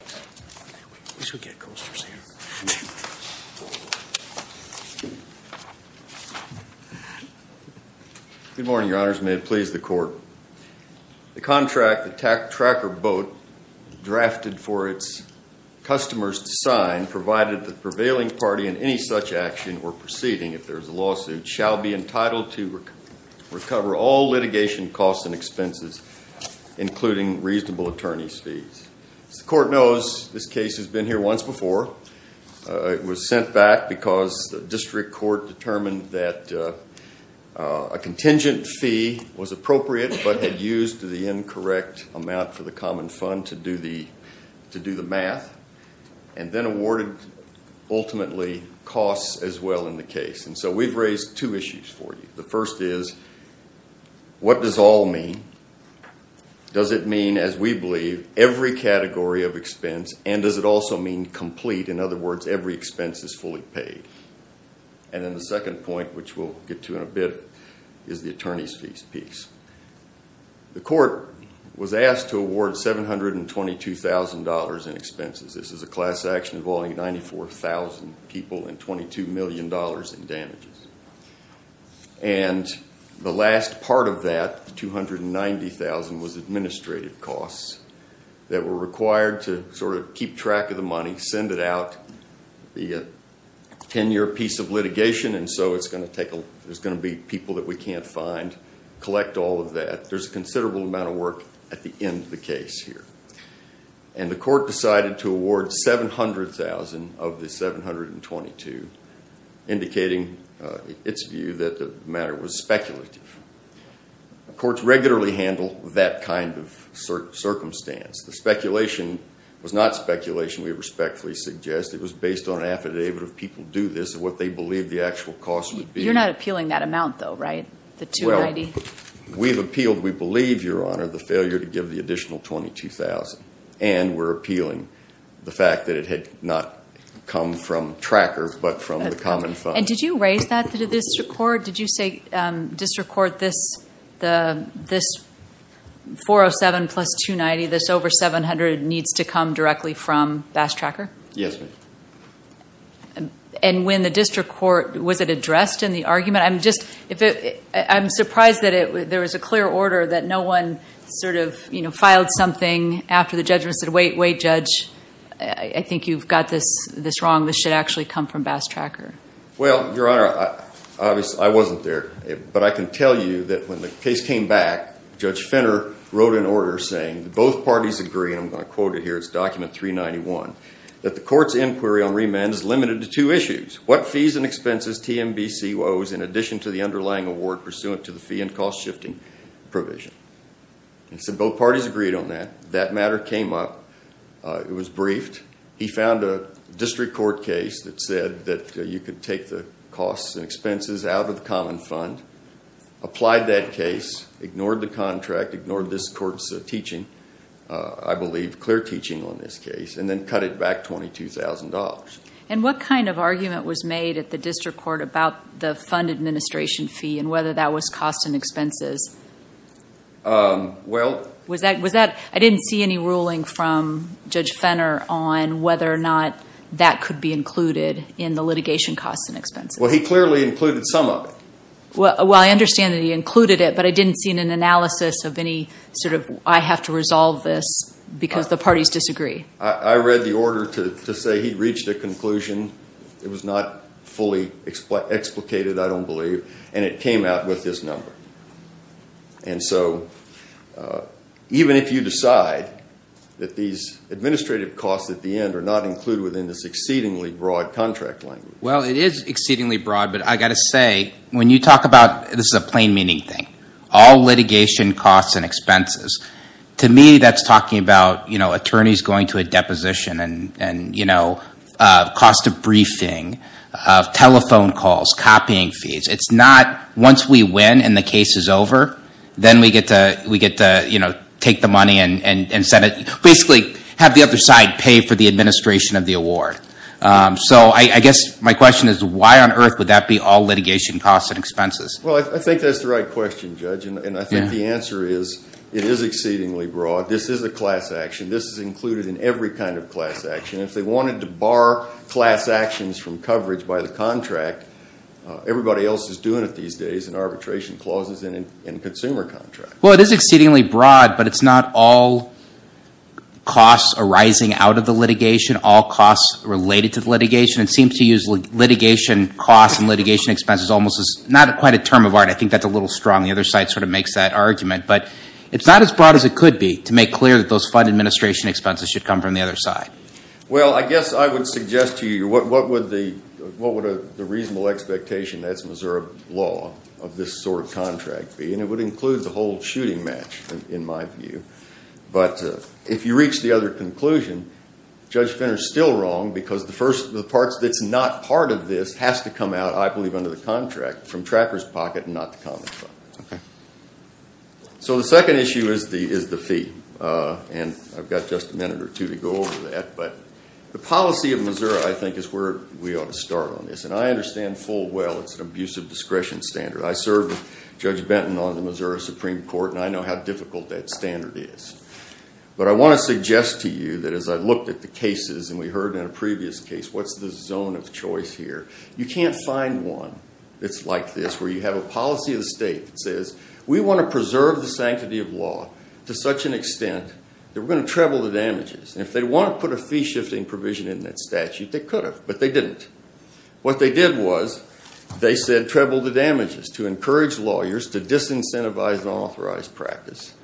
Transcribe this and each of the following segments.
Good morning, your honors. May it please the court. The contract that Tracker Boat drafted for its customers to sign, provided the prevailing party in any such action or proceeding, if there is a lawsuit, shall be entitled to recover all litigation costs and expenses, including reasonable attorney's fees. As the court knows, this case has been here once before. It was sent back because the district court determined that a contingent fee was appropriate but had used the incorrect amount for the common fund to do the math, and then awarded ultimately costs as well in the case. And so we've raised two issues for you. The first is, what does all mean? Does it mean, as we believe, every category of expense, and does it also mean complete? In other words, every expense is fully paid. And then the second point, which we'll get to in a bit, is the attorney's fees piece. The court was asked to award $722,000 in expenses. This is a class action involving 94,000 people and $22 million in damages. And the last part of that, the $290,000, was administrative costs that were required to sort of keep track of the money, send it out, be a 10-year piece of litigation, and so it's going to take a, there's going to be people that we can't find, collect all of that. There's a considerable amount of work at the end of the case here. And the court decided to award $700,000 of the $722,000, indicating its view that the matter was speculative. The courts regularly handle that kind of circumstance. The speculation was not speculation, we respectfully suggest. It was based on affidavit of people do this and what they believe the actual costs would be. You're not appealing that amount though, right? The $290,000? Well, we've appealed, we believe, Your Honor, the failure to give the additional $22,000, and we're appealing the fact that it had not come from Tracker, but from the common fund. And did you raise that to the district court? Did you say district court, this $407,000 plus $290,000, this over $700,000 needs to come directly from Bass Tracker? Yes, ma'am. And when the district court, was it addressed in the argument? I'm surprised that there was a clear order that no one sort of, you know, filed something after the judgment, said, wait, wait, judge, I think you've got this wrong, this should actually come from Bass Tracker. Well, Your Honor, I wasn't there, but I can tell you that when the case came back, Judge Finner wrote an order saying that both parties agree, and I'm going to quote it here, it's document 391, that the court's inquiry on remand is limited to two issues, what fees and expenses TMBC owes in addition to the underlying award pursuant to the fee and cost shifting provision. And so both parties agreed on that, that matter came up, it was briefed, he found a district court case that said that you could take the costs and expenses out of the common fund, applied that case, ignored the contract, ignored this court's teaching, I believe clear teaching on this case, and then cut it back $22,000. And what kind of argument was made at the district court about the fund administration fee and whether that was costs and expenses? Was that, I didn't see any ruling from Judge Finner on whether or not that could be included in the litigation costs and expenses. Well, he clearly included some of it. Well, I understand that he included it, but I didn't see an analysis of any sort of, I have to resolve this because the parties disagree. I read the order to say he reached a conclusion, it was not fully explicated I don't believe, and it came out with this number. And so, even if you decide that these administrative costs at the end are not included within this exceedingly broad contract language. Well, it is exceedingly broad, but I've got to say, when you talk about, this is a plain meaning thing, all litigation costs and expenses, to me that's talking about attorneys going to a deposition and cost of briefing, telephone calls, copying fees. It's not, once we win and the case is over, then we get to take the money and basically have the other side pay for the administration of the award. So, I guess my question is, why on earth would that be all litigation costs and expenses? Well, I think that's the right question, Judge, and I think the answer is, it is exceedingly broad. This is a class action. This is included in every kind of class action. If they wanted to bar class actions from coverage by the contract, everybody else is doing it these days in arbitration clauses and in consumer contracts. Well, it is exceedingly broad, but it's not all costs arising out of the litigation, all costs related to the litigation. It seems to use litigation costs and litigation expenses almost as, not quite a term of art, I think that's a little strong. The other side sort of makes that argument, but it's not as broad as it could be to make clear that those fund administration expenses should come from the other side. Well, I guess I would suggest to you, what would the reasonable expectation, that's Missouri law, of this sort of contract be? And it would include the whole shooting match, in my view. But if you reach the other conclusion, Judge Finner is still wrong because the parts that's not part of this has to come out, I believe, under the contract from Trapper's pocket and not the common fund. So the second issue is the fee. And I've got just a minute or two to go over that. But the policy of Missouri, I think, is where we ought to start on this. And I understand full well it's an abusive discretion standard. I served with Judge Benton on the Missouri Supreme Court, and I know how difficult that standard is. But I want to suggest to you that as I looked at the cases, and we heard in a previous case, what's the zone of choice here, you can't find one that's like this, where you have a policy of the state that says, we want to preserve the sanctity of law to such an extent that we're going to treble the damages. And if they want to put a fee-shifting provision in that statute, they could have, but they didn't. What they did was, they said treble the damages to encourage lawyers to disincentivize unauthorized practice.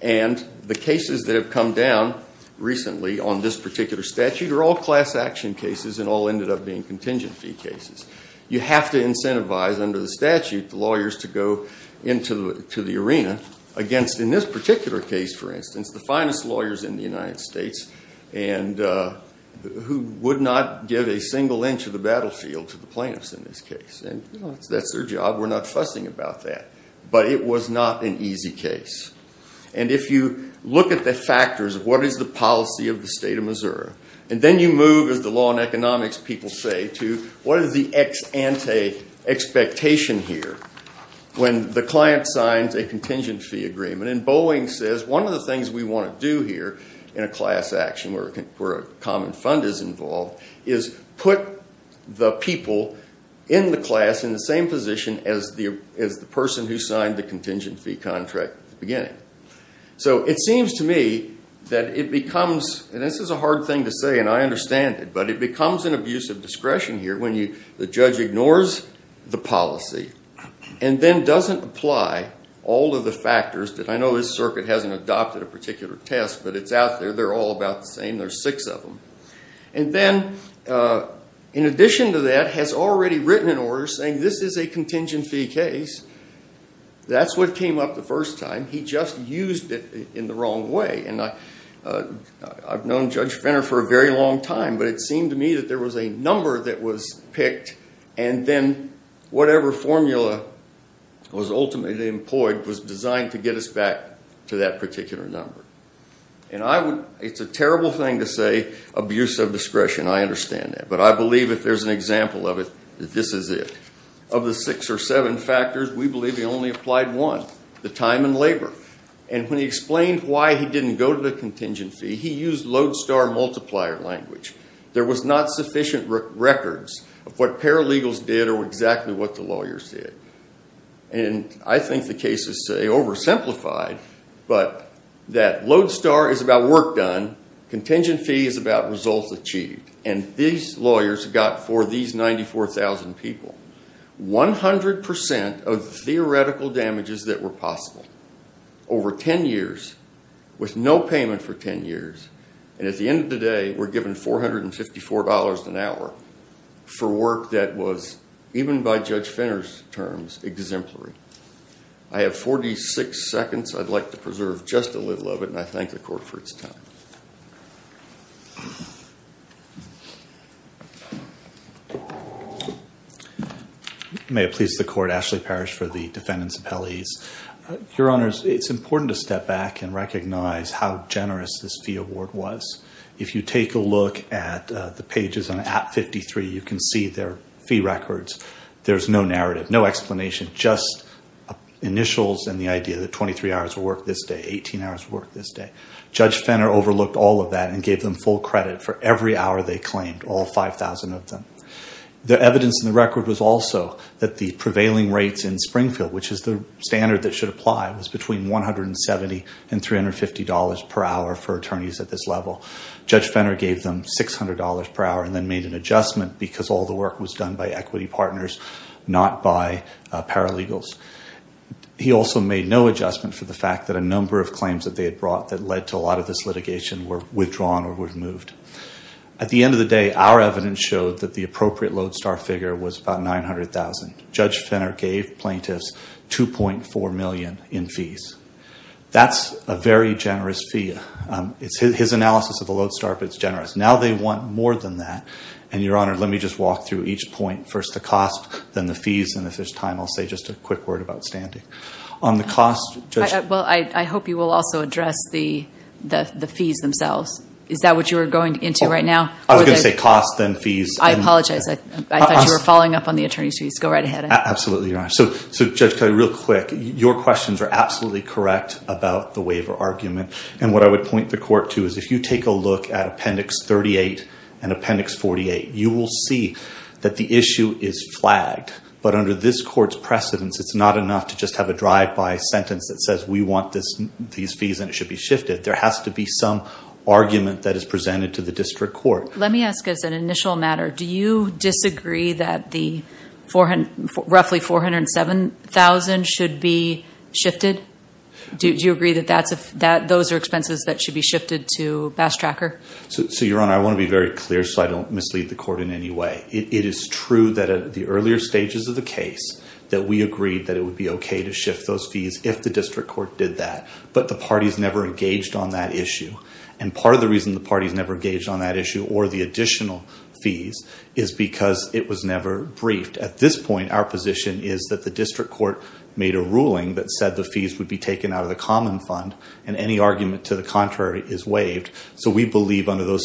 And the cases that have come down recently on this particular statute are all class action cases and all ended up being contingent fee cases. You have to incentivize under the statute the lawyers to go into the arena against, in this particular case, for instance, the finest lawyers in the United States, who would not give a single inch of the battlefield to the plaintiffs in this case. And that's their job. We're not fussing about that. But it was not an easy case. And if you look at the factors of what is the policy of the state of Missouri, and then you move, as the law and economics people say, to what is the ex ante expectation here, when the client signs a contingent fee agreement. And Boeing says, one of the things we want to do here in a class action, where a common fund is involved, is put the people in the class in the same position as the person who signed the contingent fee contract at the beginning. So it seems to me that it becomes, and this is a hard thing to say, and I understand it, but it becomes an abuse of discretion here when the judge ignores the policy and then doesn't apply all of the factors that I know this circuit hasn't adopted a particular test, but it's out there. They're all about the same. There's six of them. And then, in saying, this is a contingent fee case, that's what came up the first time. He just used it in the wrong way. And I've known Judge Finner for a very long time, but it seemed to me that there was a number that was picked, and then whatever formula was ultimately employed was designed to get us back to that particular number. And I would, it's a terrible thing to say abuse of discretion. I understand that. But I believe if there's an example of it, that this is it. Of the six or seven factors, we believe he only applied one, the time and labor. And when he explained why he didn't go to the contingent fee, he used Lodestar multiplier language. There was not sufficient records of what paralegals did or exactly what the lawyers did. And I think the case is oversimplified, but that Lodestar is about work done. Contingent fee is about results achieved. And these lawyers got for these 94,000 people 100% of the theoretical damages that were possible over 10 years, with no payment for 10 years. And at the end of the day, we're given $454 an hour for work that was, even by Judge Finner's terms, exemplary. I have 46 seconds. I'd like to preserve just a little of it, and I thank the court for its time. May it please the court, Ashley Parrish for the defendant's appellees. Your honors, it's important to step back and recognize how generous this fee award was. If you take a look at the pages on app 53, you can see their fee records. There's no narrative, no explanation, just initials and the idea that 23 hours of work this day, 18 hours of work this day. Judge Finner overlooked all of that and gave them full credit for every hour they claimed, all 5,000 of them. The evidence in the record was also that the prevailing rates in Springfield, which is the standard that should apply, was between $170 and $350 per hour for attorneys at this level. Judge Finner gave them $600 per hour and then made an adjustment because all the work was done by equity partners, not by paralegals. He also made no adjustment for the fact that a number of claims that they had brought that led to a lot of this litigation were withdrawn or were removed. At the end of the day, our evidence showed that the appropriate Lodestar figure was about $900,000. Judge Finner gave plaintiffs $2.4 million in fees. That's a very generous fee. It's his analysis of the Lodestar, but it's first the cost, then the fees, and if there's time, I'll say just a quick word about standing. Well, I hope you will also address the fees themselves. Is that what you were going into right now? I was going to say cost, then fees. I apologize. I thought you were following up on the attorney's fees. Go right ahead. Absolutely, Your Honor. Judge Kelly, real quick, your questions are absolutely correct about the waiver argument. What I would point the court to is if you take a look at Appendix 38 and Appendix 48, you will see that the issue is flagged, but under this court's precedence, it's not enough to just have a drive-by sentence that says we want these fees and it should be shifted. There has to be some argument that is presented to the district court. Let me ask as an initial matter, do you disagree that roughly $407,000 should be shifted? Do you agree that those are expenses that should be shifted to Bass Tracker? So, Your Honor, I want to be very clear so I don't mislead the court in any way. It is true that at the earlier stages of the case that we agreed that it would be okay to shift those fees if the district court did that, but the parties never engaged on that issue. Part of the reason the parties never engaged on that issue or the additional fees is because it was never briefed. At this point, our position is that the district court made a ruling that said the fees would be taken out of the common fund and any argument to the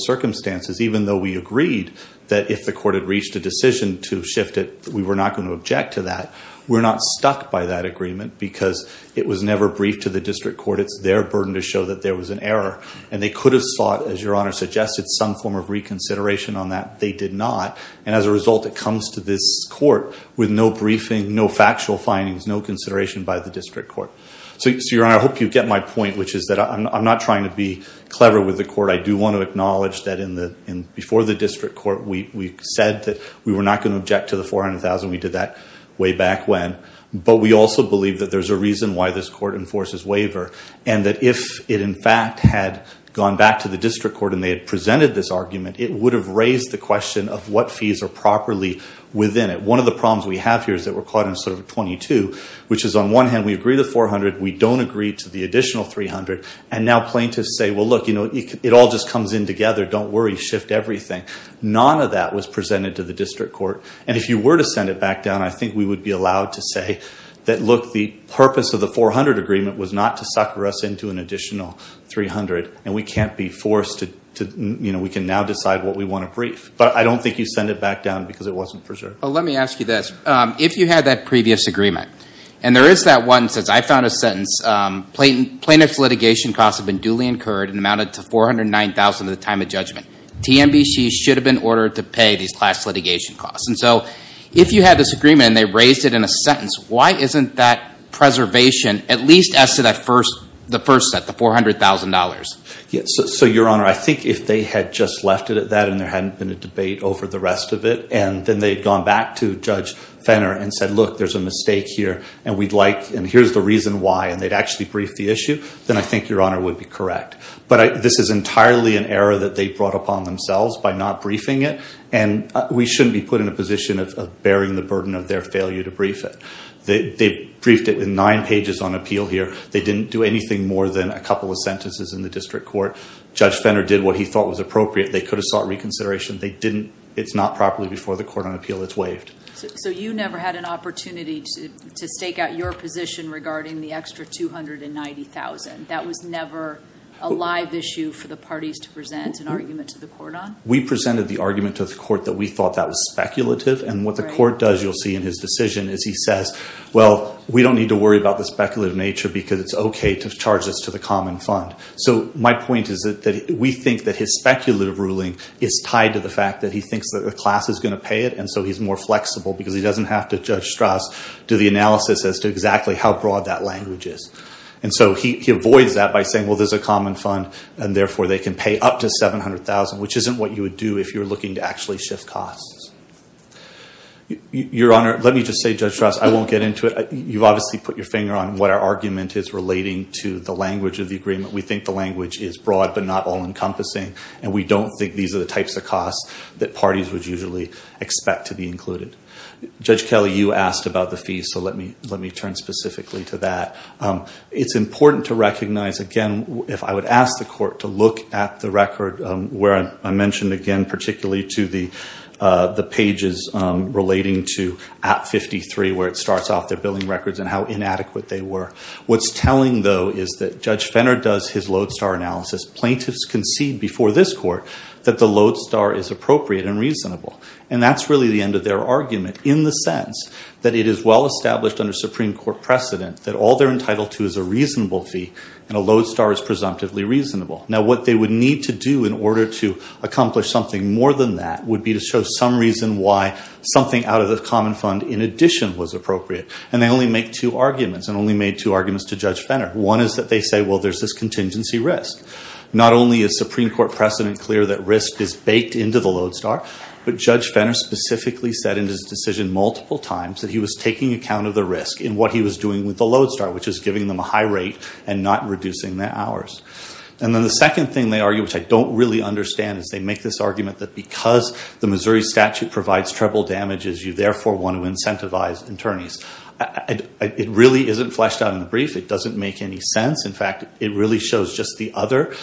circumstances, even though we agreed that if the court had reached a decision to shift it, we were not going to object to that. We're not stuck by that agreement because it was never briefed to the district court. It's their burden to show that there was an error and they could have sought, as Your Honor suggested, some form of reconsideration on that. They did not, and as a result, it comes to this court with no briefing, no factual findings, no consideration by the district court. So, Your Honor, I hope you get my point, which is that I'm not trying to be clever with the court. I do want to acknowledge that before the district court, we said that we were not going to object to the $400,000. We did that way back when, but we also believe that there's a reason why this court enforces waiver and that if it, in fact, had gone back to the district court and they had presented this argument, it would have raised the question of what fees are properly within it. One of the problems we have here is that we're caught in sort of 22, which is on one hand, we agree to the $400,000, we don't agree to the additional $300,000, and now plaintiffs say, well, look, you know, it all just comes in together. Don't worry, shift everything. None of that was presented to the district court, and if you were to send it back down, I think we would be allowed to say that, look, the purpose of the $400,000 agreement was not to sucker us into an additional $300,000, and we can't be forced to, you know, we can now decide what we want to brief, but I don't think you send it back down because it wasn't preserved. Well, let me ask you this. If you had that previous agreement, and there is that one, since I found a sentence, plaintiff's litigation costs have been duly incurred and amounted to $409,000 at the time of judgment. TMBC should have been ordered to pay these class litigation costs, and so if you had this agreement and they raised it in a sentence, why isn't that preservation at least as to the first set, the $400,000? So, Your Honor, I think if they had just left it at that and there hadn't been a debate over the rest of it, and then they'd gone back to Judge Fenner and said, look, there's a mistake here, and we'd like, and here's the reason why, and they'd actually brief the issue, then I think Your Honor would be correct. But this is entirely an error that they brought upon themselves by not briefing it, and we shouldn't be put in a position of bearing the burden of their failure to brief it. They briefed it in nine pages on appeal here. They didn't do anything more than a couple of sentences in the district court. Judge Fenner did what he should have done. He's not properly before the court on appeal. It's waived. So you never had an opportunity to stake out your position regarding the extra $290,000. That was never a live issue for the parties to present an argument to the court on? We presented the argument to the court that we thought that was speculative, and what the court does, you'll see in his decision, is he says, well, we don't need to worry about the speculative nature because it's okay to charge this to the common fund. So my point is that we think that speculative ruling is tied to the fact that he thinks that the class is going to pay it, and so he's more flexible because he doesn't have to, Judge Strauss, do the analysis as to exactly how broad that language is. And so he avoids that by saying, well, there's a common fund, and therefore they can pay up to $700,000, which isn't what you would do if you're looking to actually shift costs. Your Honor, let me just say, Judge Strauss, I won't get into it. You've obviously put your finger on what our argument is relating to the language of the agreement. We think the language is broad but not all-encompassing, and we don't think these are the types of costs that parties would usually expect to be included. Judge Kelly, you asked about the fees, so let me turn specifically to that. It's important to recognize, again, if I would ask the court to look at the record where I mentioned, again, particularly to the pages relating to Act 53, where it starts off their billing records and how inadequate they were. What's telling, though, is that Judge Fenner does his Lodestar analysis. Plaintiffs concede before this Court that the Lodestar is appropriate and reasonable. And that's really the end of their argument in the sense that it is well-established under Supreme Court precedent that all they're entitled to is a reasonable fee, and a Lodestar is presumptively reasonable. Now, what they would need to do in order to accomplish something more than that would be to show some reason why something out of the common fund in addition was appropriate. And they only two arguments, and only made two arguments to Judge Fenner. One is that they say, well, there's this contingency risk. Not only is Supreme Court precedent clear that risk is baked into the Lodestar, but Judge Fenner specifically said in his decision multiple times that he was taking account of the risk in what he was doing with the Lodestar, which is giving them a high rate and not reducing their hours. And then the second thing they argue, which I don't really understand, is they make this argument that because the Missouri statute provides treble damages, you therefore want to incentivize attorneys. It really isn't fleshed out in the brief. It doesn't make any sense. In fact, it really shows just the other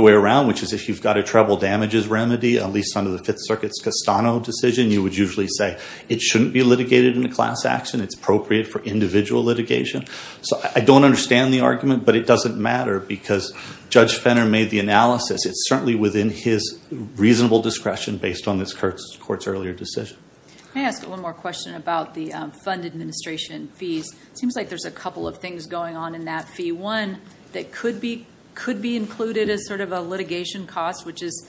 way around, which is if you've got a treble damages remedy, at least under the Fifth Circuit's Castano decision, you would usually say it shouldn't be litigated in a class action. It's appropriate for individual litigation. So I don't understand the argument, but it doesn't matter because Judge Fenner made the analysis. It's certainly within his reasonable discretion based on this court's earlier decision. Let me ask one more question about the fund administration fees. It seems like there's a couple of things going on in that fee. One that could be included as sort of a litigation cost, which is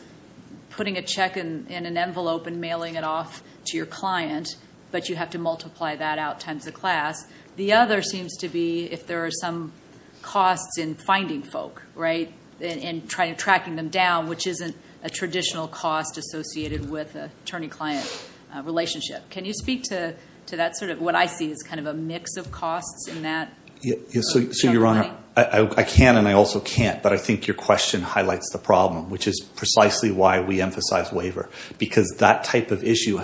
putting a check in an envelope and mailing it off to your client, but you have to multiply that out times the class. The other seems to be if there are some costs in finding folk, right, and tracking them down, which isn't a traditional cost associated with an attorney client relationship. Can you speak to that sort of what I see as kind of a mix of costs in that? Yes, so Your Honor, I can and I also can't, but I think your question highlights the problem, which is precisely why we emphasize waiver, because that type of issue,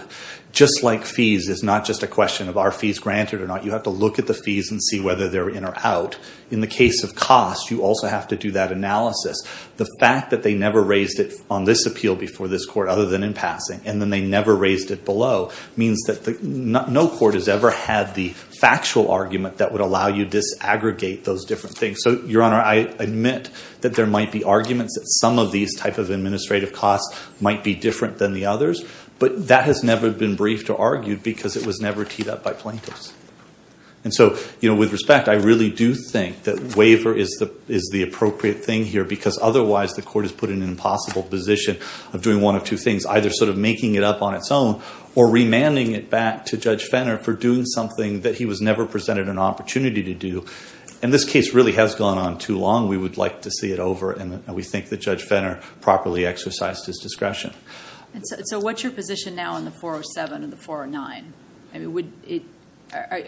just like fees, is not just a question of are fees granted or not. You have to look at the fees and see whether they're in or out. In the case of cost, you also have to do that analysis. The fact that they never raised it on this appeal before this court other than in passing, and then they never raised it below, means that no court has ever had the factual argument that would allow you disaggregate those different things. So, Your Honor, I admit that there might be arguments that some of these type of administrative costs might be different than the others, but that has never been briefed or argued because it was never teed up by plaintiffs. And so, you know, with respect, I really do think that waiver is the appropriate thing here, because otherwise the court is put in an impossible position of doing one of two things, either sort of making it up on its own or remanding it back to Judge Fenner for doing something that he was never presented an opportunity to do. And this case really has gone on too long. We would like to see it over, and we think that Judge Fenner properly exercised his discretion. So what's your position now on the 407 and the 409? I mean,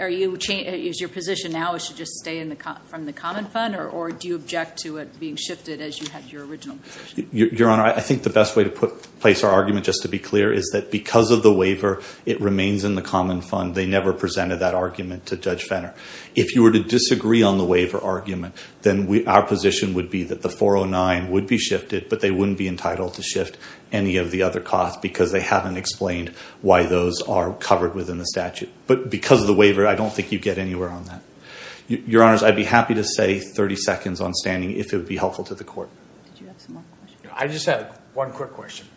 is your position now is to just stay from the common fund, or do you object to it being shifted as you had your original position? Your Honor, I think the best way to place our argument, just to be clear, is that because of the waiver, it remains in the common fund. They never presented that argument to Judge Fenner. If you were to disagree on the waiver argument, then our position would be that the 409 would be shifted, but they wouldn't be entitled to shift any of the other costs because they haven't explained why those are covered within the statute. But because of the waiver, I don't think you'd get anywhere on that. Your Honors, I'd be happy to say 30 seconds on standing if it would be helpful to the court. Did you have some more questions? I just had one quick question.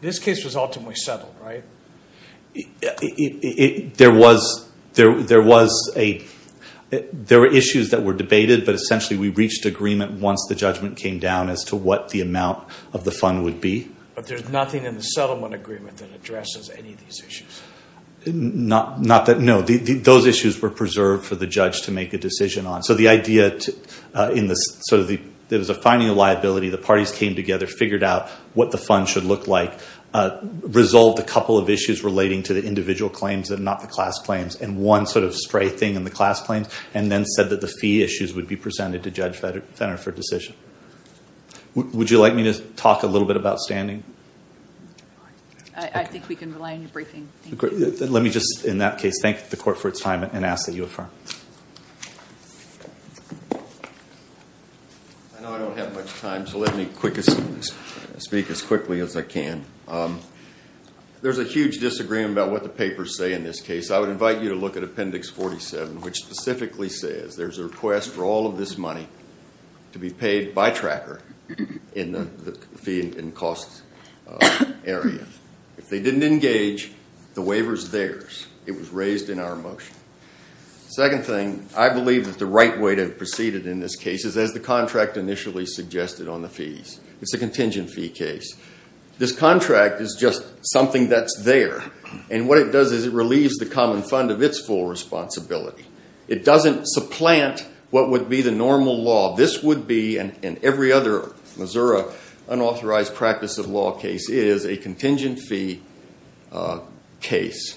This case was ultimately settled, right? There were issues that were debated, but essentially we reached agreement once the But there's nothing in the settlement agreement that addresses any of these issues? Not that, no. Those issues were preserved for the judge to make a decision on. So the idea, there was a finding of liability, the parties came together, figured out what the fund should look like, resolved a couple of issues relating to the individual claims and not the class claims, and one sort of stray thing in the class claims, and then said that the fee issues would be I think we can rely on your briefing. Let me just, in that case, thank the court for its time and ask that you affirm. I know I don't have much time, so let me speak as quickly as I can. There's a huge disagreement about what the papers say in this case. I would invite you to look at Appendix 47, which specifically says there's a request for all of this money to be paid by Tracker in the fee and cost area. If they didn't engage, the waiver's theirs. It was raised in our motion. Second thing, I believe that the right way to proceed in this case is as the contract initially suggested on the fees. It's a contingent fee case. This contract is just something that's there, and what it does is it relieves the common fund of its full responsibility. It doesn't supplant what would be the normal law. This would be, and every other Missouri unauthorized practice of law case is, a contingent fee case.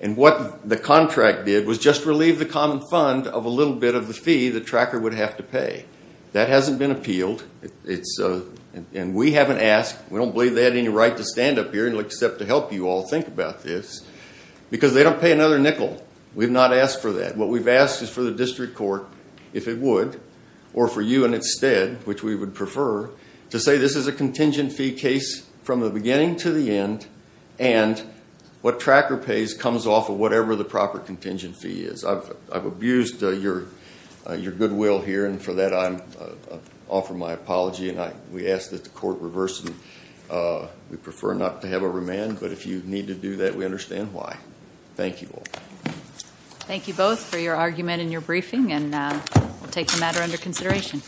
What the contract did was just relieve the common fund of a little bit of the fee that Tracker would have to pay. That hasn't been appealed, and we haven't asked. We don't believe they had any right to stand up here except to you all think about this, because they don't pay another nickel. We've not asked for that. What we've asked is for the district court, if it would, or for you in its stead, which we would prefer, to say this is a contingent fee case from the beginning to the end, and what Tracker pays comes off of whatever the proper contingent fee is. I've abused your goodwill here, and for that, I offer my apology, and we ask that the court reverse it. We prefer not to have a remand, but if you need to do that, we understand why. Thank you all. Thank you both for your argument and your briefing, and we'll take the matter under consideration.